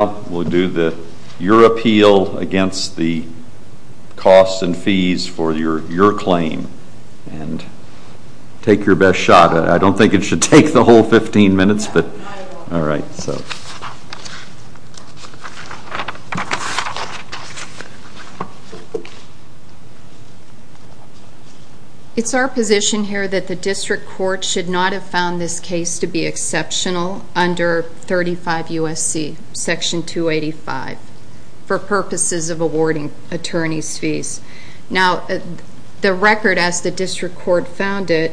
We'll do your appeal against the costs and fees for your claim, and take your best shot. I don't think it should take the whole 15 minutes, but all right. It's our position here that the district court should not have found this case to be exceptional under 35 U.S.C. Section 285 for purposes of awarding attorney's fees. Now, the record as the district court found it,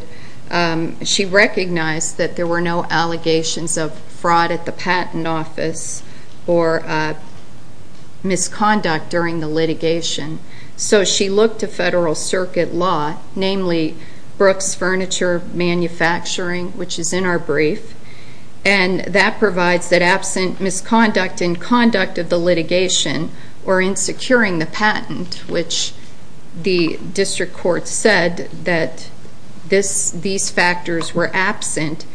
she recognized that there were no allegations of fraud at the patent office or misconduct during the litigation. So she looked to federal circuit law, namely Brooks Furniture Manufacturing, which is in our brief, and that provides that absent misconduct in conduct of the litigation or in securing the patent, which the district court said that these factors were absent,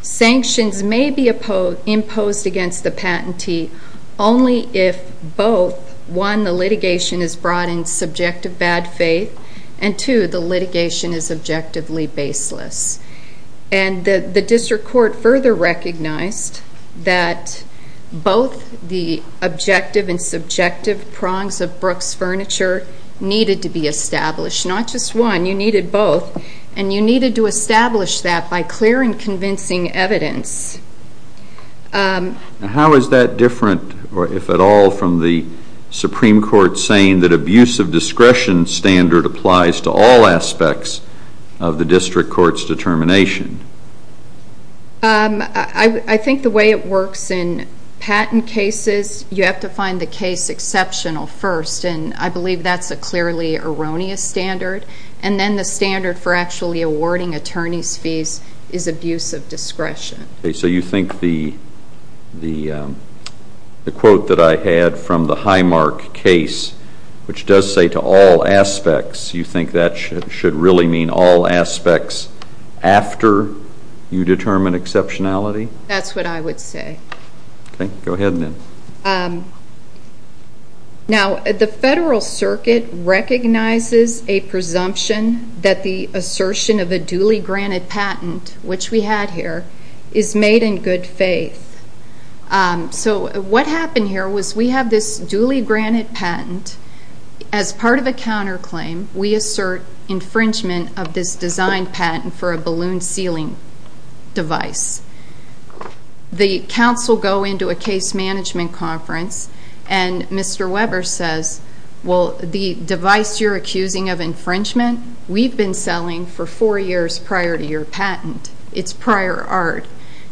sanctions may be imposed against the patentee only if both, one, the litigation is brought in subject of bad faith, and two, the litigation is objectively baseless. And the district court further recognized that both the objective and subjective prongs of Brooks Furniture needed to be established, not just one, you needed both, and you needed to establish that by clear and convincing evidence. How is that different, if at all, from the Supreme Court saying that abusive discretion standard applies to all aspects of the district court's determination? I think the way it works in patent cases, you have to find the case exceptional first, and I believe that's a clearly erroneous standard. And then the standard for actually awarding attorney's fees is abusive discretion. Okay, so you think the quote that I had from the Highmark case, which does say to all aspects, you think that should really mean all aspects after you determine exceptionality? That's what I would say. Okay, go ahead then. Now, the Federal Circuit recognizes a presumption that the assertion of a duly granted patent, which we had here, is made in good faith. So what happened here was we have this duly granted patent. As part of a counterclaim, we assert infringement of this designed patent for a balloon sealing device. The counsel go into a case management conference, and Mr. Weber says, well, the device you're accusing of infringement, we've been selling for four years prior to your patent. It's prior art.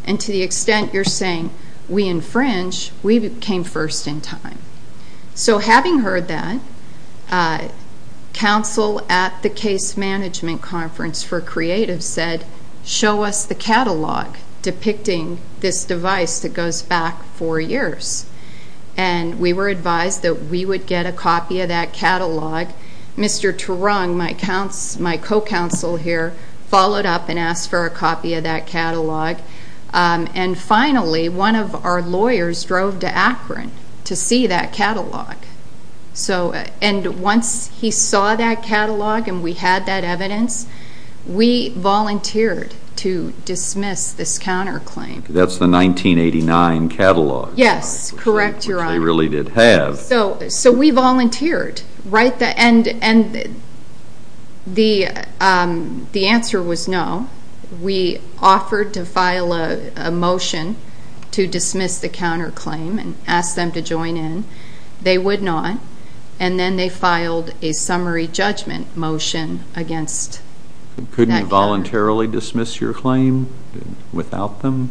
And to the extent you're saying we infringe, we came first in time. So having heard that, counsel at the case management conference for creatives said, show us the catalog depicting this device that goes back four years. And we were advised that we would get a copy of that catalog. Mr. Terung, my co-counsel here, followed up and asked for a copy of that catalog. And finally, one of our lawyers drove to Akron to see that catalog. And once he saw that catalog and we had that evidence, we volunteered to dismiss this counterclaim. That's the 1989 catalog. Yes, correct, Your Honor. Which they really did have. So we volunteered. And the answer was no. We offered to file a motion to dismiss the counterclaim and ask them to join in. They would not. And then they filed a summary judgment motion against that counterclaim. Couldn't you voluntarily dismiss your claim without them?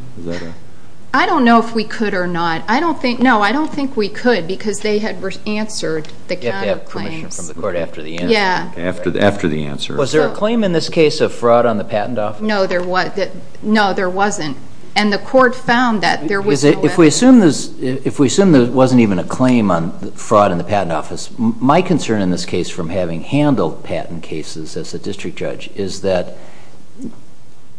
I don't know if we could or not. No, I don't think we could because they had answered the counterclaims. They had to have permission from the court after the answer. Yeah. After the answer. Was there a claim in this case of fraud on the patent office? No, there wasn't. And the court found that there was no evidence. If we assume there wasn't even a claim on fraud in the patent office, my concern in this case from having handled patent cases as a district judge is that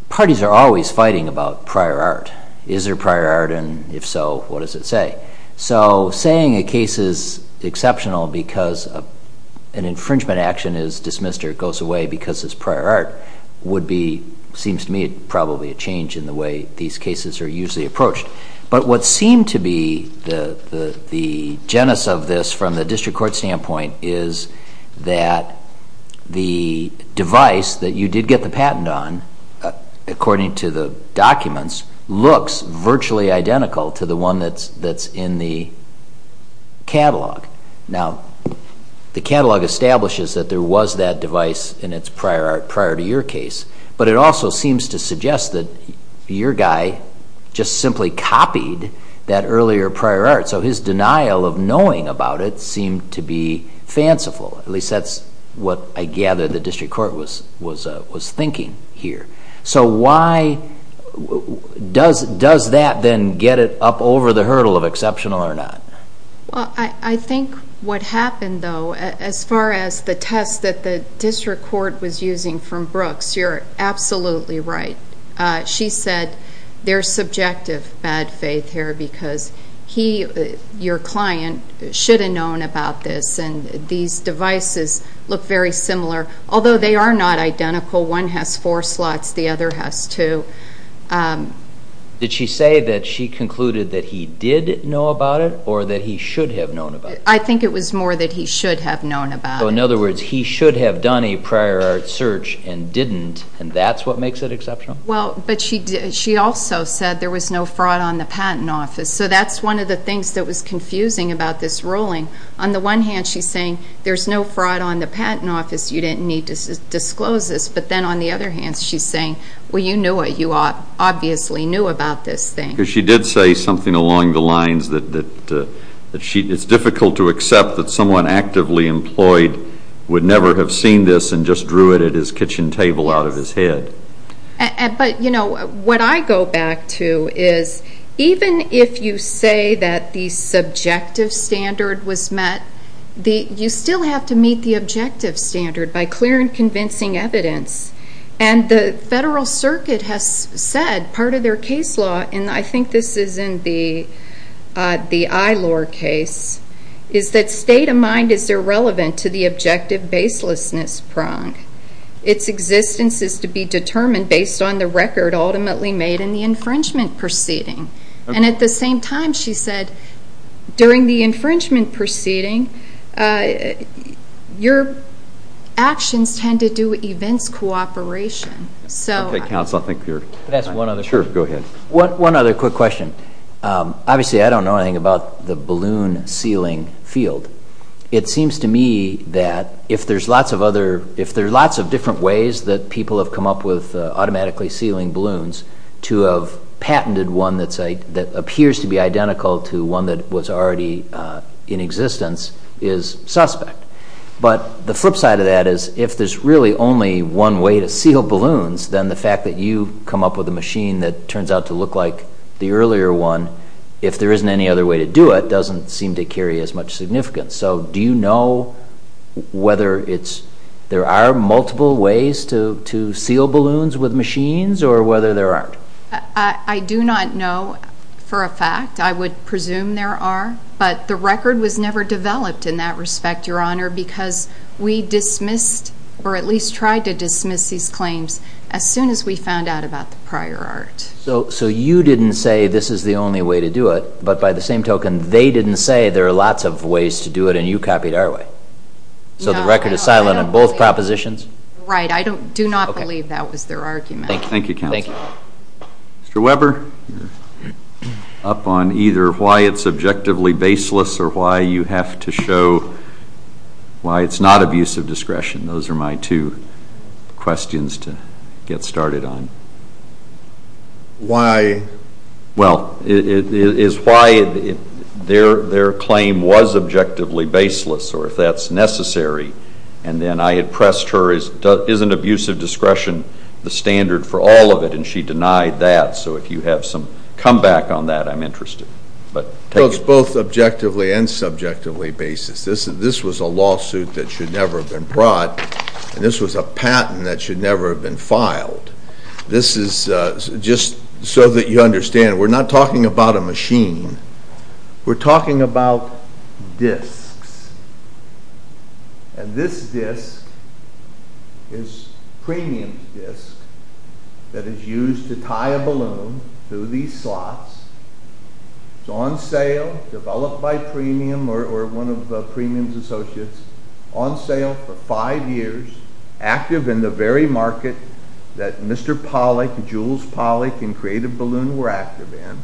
parties are always fighting about prior art. Is there prior art? And if so, what does it say? So saying a case is exceptional because an infringement action is dismissed or goes away because it's prior art would be, seems to me, probably a change in the way these cases are usually approached. But what seemed to be the genesis of this from the district court standpoint is that the device that you did get the patent on, according to the documents, looks virtually identical to the one that's in the catalog. Now, the catalog establishes that there was that device in its prior art prior to your case, but it also seems to suggest that your guy just simply copied that earlier prior art. So his denial of knowing about it seemed to be fanciful. At least that's what I gather the district court was thinking here. So why does that then get it up over the hurdle of exceptional or not? Well, I think what happened, though, as far as the test that the district court was using from Brooks, you're absolutely right. She said there's subjective bad faith here because he, your client, should have known about this, and these devices look very similar, although they are not identical. One has four slots. The other has two. Did she say that she concluded that he did know about it or that he should have known about it? I think it was more that he should have known about it. So in other words, he should have done a prior art search and didn't, and that's what makes it exceptional? Well, but she also said there was no fraud on the patent office. So that's one of the things that was confusing about this ruling. On the one hand, she's saying there's no fraud on the patent office. You didn't need to disclose this. But then on the other hand, she's saying, well, you knew it. You obviously knew about this thing. Because she did say something along the lines that it's difficult to accept that someone actively employed would never have seen this and just drew it at his kitchen table out of his head. But, you know, what I go back to is even if you say that the subjective standard was met, you still have to meet the objective standard by clear and convincing evidence. And the Federal Circuit has said part of their case law, and I think this is in the Eilor case, is that state of mind is irrelevant to the objective baselessness prong. Its existence is to be determined based on the record ultimately made in the infringement proceeding. And at the same time, she said, during the infringement proceeding, your actions tend to do events cooperation. Okay, counsel, I think you're done. Can I ask one other quick question? Sure, go ahead. One other quick question. Obviously, I don't know anything about the balloon sealing field. It seems to me that if there's lots of different ways that people have come up with automatically sealing balloons to have patented one that appears to be identical to one that was already in existence is suspect. But the flip side of that is if there's really only one way to seal balloons, then the fact that you come up with a machine that turns out to look like the earlier one, if there isn't any other way to do it, doesn't seem to carry as much significance. So do you know whether there are multiple ways to seal balloons with machines or whether there aren't? I do not know for a fact. I would presume there are. But the record was never developed in that respect, Your Honor, because we dismissed or at least tried to dismiss these claims as soon as we found out about the prior art. So you didn't say this is the only way to do it, but by the same token, they didn't say there are lots of ways to do it and you copied our way? No. So the record is silent on both propositions? Right. I do not believe that was their argument. Thank you, Counsel. Thank you. Mr. Weber, you're up on either why it's objectively baseless or why you have to show why it's not abusive discretion. Those are my two questions to get started on. Why? Well, it is why their claim was objectively baseless or if that's necessary, and then I had pressed her, isn't abusive discretion the standard for all of it, and she denied that. So if you have some comeback on that, I'm interested. Well, it's both objectively and subjectively baseless. This was a lawsuit that should never have been brought, and this was a patent that should never have been filed. This is just so that you understand, we're not talking about a machine. We're talking about disks, and this disk is premium disk that is used to tie a balloon through these slots. It's on sale, developed by premium or one of the premium associates, on sale for five years, active in the very market that Mr. Pollack, Jules Pollack, and Creative Balloon were active in.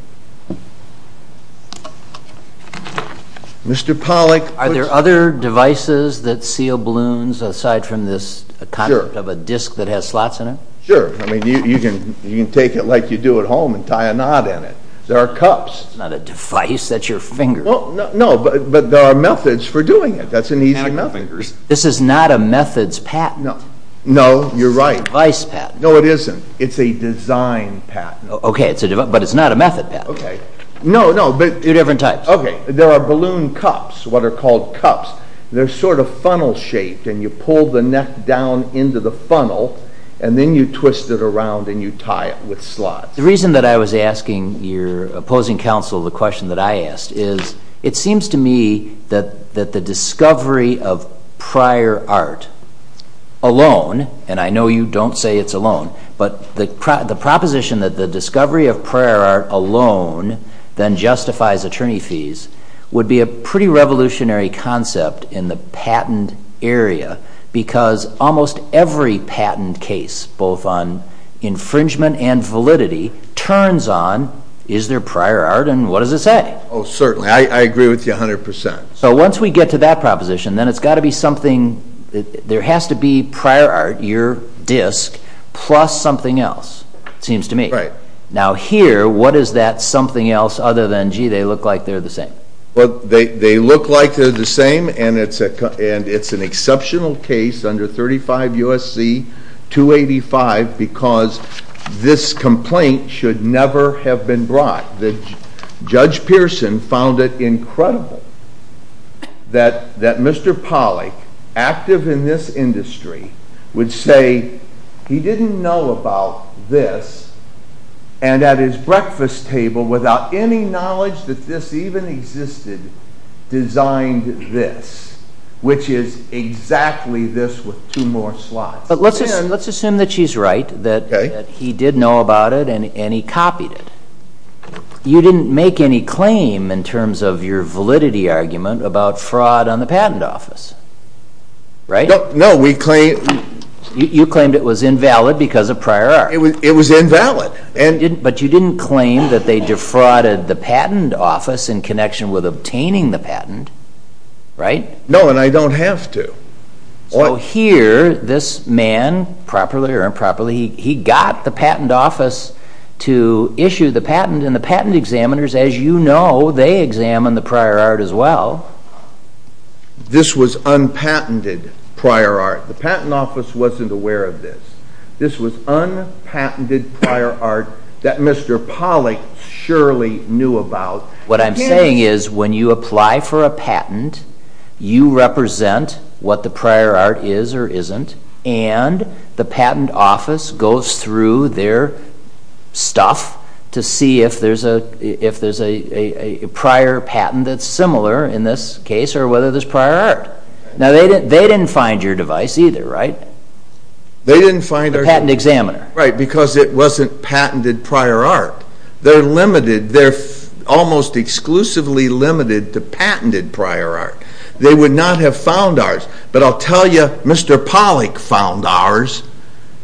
Mr. Pollack... Are there other devices that seal balloons aside from this concept of a disk that has slots in it? Sure. I mean, you can take it like you do at home and tie a knot in it. There are cups. It's not a device. That's your finger. No, but there are methods for doing it. That's an easy method. This is not a methods patent. No, you're right. It's a device patent. No, it isn't. It's a design patent. Okay, but it's not a method patent. Okay. No, no, but... Two different types. Okay. There are balloon cups, what are called cups. They're sort of funnel shaped, and you pull the neck down into the funnel, and then you twist it around and you tie it with slots. The reason that I was asking your opposing counsel the question that I asked is, it seems to me that the discovery of prior art alone, and I know you don't say it's alone, but the proposition that the discovery of prior art alone then justifies attorney fees would be a pretty revolutionary concept in the patent area because almost every patent case, both on infringement and validity, turns on, is there prior art and what does it say? Oh, certainly. I agree with you 100%. So once we get to that proposition, then it's got to be something. There has to be prior art, your disk, plus something else, it seems to me. Right. Now here, what is that something else other than, gee, they look like they're the same? Well, they look like they're the same, and it's an exceptional case under 35 U.S.C. 285 because this complaint should never have been brought. Judge Pearson found it incredible that Mr. Pollack, active in this industry, would say he didn't know about this and at his breakfast table without any knowledge that this even existed designed this, which is exactly this with two more slots. But let's assume that she's right, that he did know about it and he copied it. You didn't make any claim in terms of your validity argument about fraud on the patent office, right? No. You claimed it was invalid because of prior art. It was invalid. But you didn't claim that they defrauded the patent office in connection with obtaining the patent, right? No, and I don't have to. So here, this man, properly or improperly, he got the patent office to issue the patent, and the patent examiners, as you know, they examined the prior art as well. This was unpatented prior art. The patent office wasn't aware of this. This was unpatented prior art that Mr. Pollack surely knew about. What I'm saying is when you apply for a patent, you represent what the prior art is or isn't, and the patent office goes through their stuff to see if there's a prior patent that's similar in this case or whether there's prior art. Now, they didn't find your device either, right? They didn't find our device. The patent examiner. Right, because it wasn't patented prior art. They're limited. They're almost exclusively limited to patented prior art. They would not have found ours. But I'll tell you, Mr. Pollack found ours,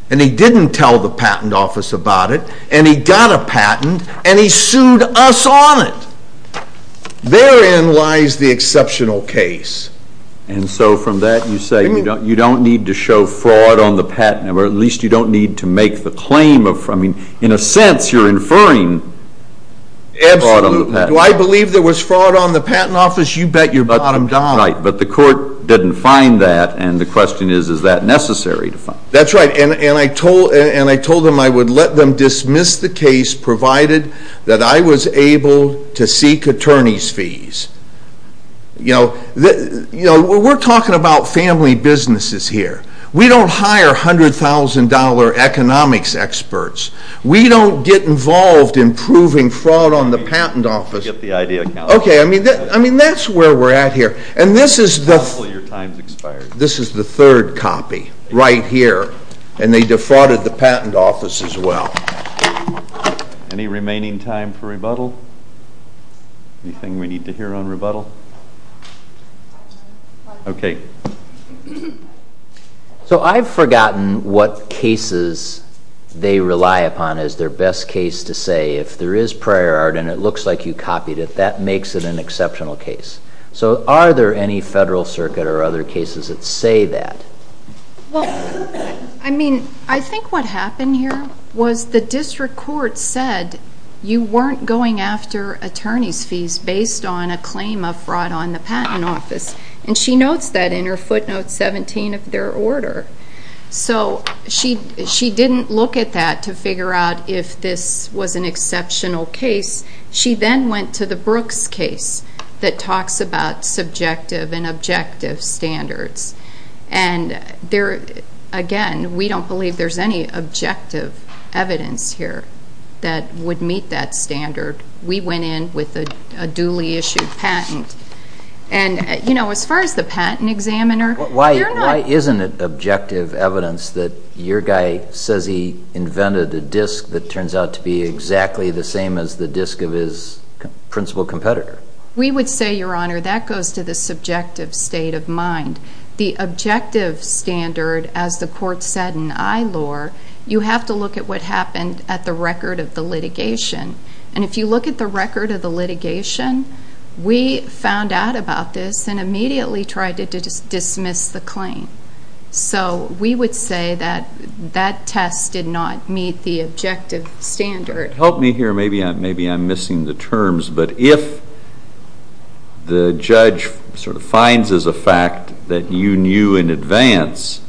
and he didn't tell the patent office about it, and he got a patent, and he sued us on it. Therein lies the exceptional case. And so from that you say you don't need to show fraud on the patent, or at least you don't need to make the claim of fraud. In a sense, you're inferring fraud on the patent. Absolutely. Do I believe there was fraud on the patent office? You bet your bottom dollar. Right, but the court didn't find that, and the question is, is that necessary to find? That's right, and I told them I would let them dismiss the case provided that I was able to seek attorney's fees. You know, we're talking about family businesses here. We don't hire $100,000 economics experts. We don't get involved in proving fraud on the patent office. Okay, I mean, that's where we're at here. And this is the third copy right here, and they defrauded the patent office as well. Any remaining time for rebuttal? Anything we need to hear on rebuttal? Okay. So I've forgotten what cases they rely upon as their best case to say. If there is prior art and it looks like you copied it, that makes it an exceptional case. So are there any federal circuit or other cases that say that? Well, I mean, I think what happened here was the district court said you weren't going after attorney's fees based on a claim of fraud on the patent office. And she notes that in her footnote 17 of their order. So she didn't look at that to figure out if this was an exceptional case. She then went to the Brooks case that talks about subjective and objective standards. And, again, we don't believe there's any objective evidence here that would meet that standard. We went in with a duly issued patent. And, you know, as far as the patent examiner, they're not. Why isn't it objective evidence that your guy says he invented a disk that turns out to be exactly the same as the disk of his principal competitor? We would say, Your Honor, that goes to the subjective state of mind. The objective standard, as the court said in ILOR, you have to look at what happened at the record of the litigation. And if you look at the record of the litigation, we found out about this and immediately tried to dismiss the claim. So we would say that that test did not meet the objective standard. Help me here. Maybe I'm missing the terms. But if the judge sort of finds as a fact that you knew in advance,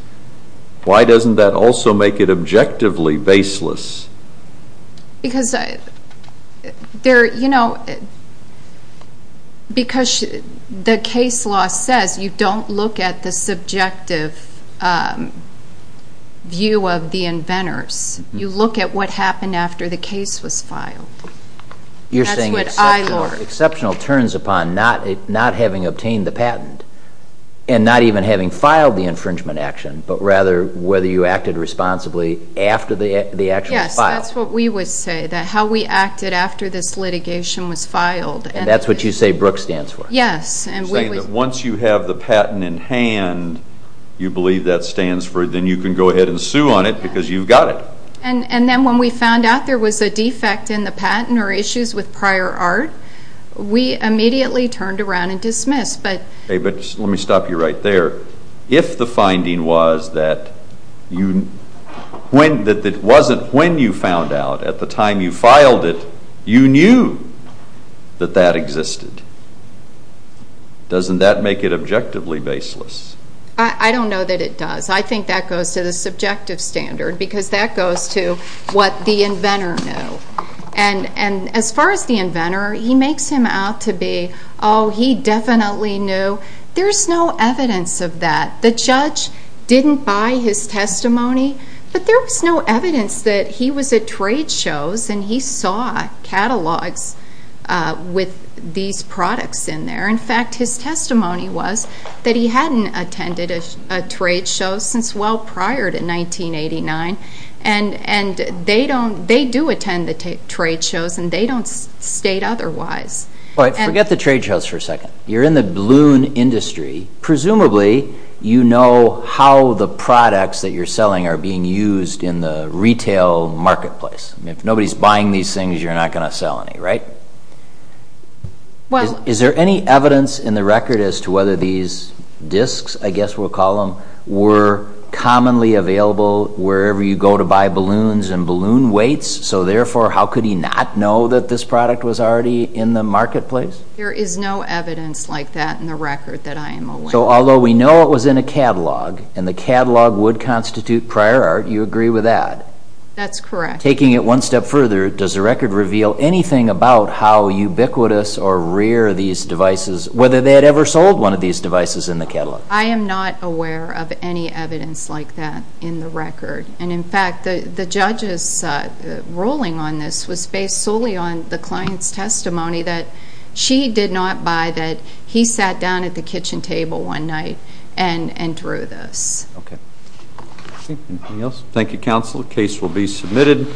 why doesn't that also make it objectively baseless? Because, you know, because the case law says you don't look at the subjective view of the inventors. You look at what happened after the case was filed. You're saying exceptional turns upon not having obtained the patent and not even having filed the infringement action, but rather whether you acted responsibly after the action was filed. Yes, that's what we would say, that how we acted after this litigation was filed. And that's what you say Brooke stands for? Yes. You're saying that once you have the patent in hand, you believe that stands for, then you can go ahead and sue on it because you've got it. And then when we found out there was a defect in the patent or issues with prior art, we immediately turned around and dismissed. But let me stop you right there. If the finding was that it wasn't when you found out at the time you filed it, you knew that that existed, doesn't that make it objectively baseless? I don't know that it does. I think that goes to the subjective standard because that goes to what the inventor knew. And as far as the inventor, he makes him out to be, oh, he definitely knew. There's no evidence of that. The judge didn't buy his testimony, but there was no evidence that he was at trade shows and he saw catalogs with these products in there. In fact, his testimony was that he hadn't attended a trade show since well prior to 1989, and they do attend the trade shows and they don't state otherwise. Forget the trade shows for a second. You're in the balloon industry. Presumably, you know how the products that you're selling are being used in the retail marketplace. If nobody's buying these things, you're not going to sell any, right? Is there any evidence in the record as to whether these discs, I guess we'll call them, were commonly available wherever you go to buy balloons and balloon weights? So therefore, how could he not know that this product was already in the marketplace? There is no evidence like that in the record that I am aware of. So although we know it was in a catalog and the catalog would constitute prior art, you agree with that? That's correct. Taking it one step further, does the record reveal anything about how ubiquitous or rare these devices, whether they had ever sold one of these devices in the catalog? I am not aware of any evidence like that in the record. And in fact, the judge's ruling on this was based solely on the client's testimony that she did not buy that he sat down at the kitchen table one night and drew this. Okay. Anything else? Thank you, Counsel. The case will be submitted.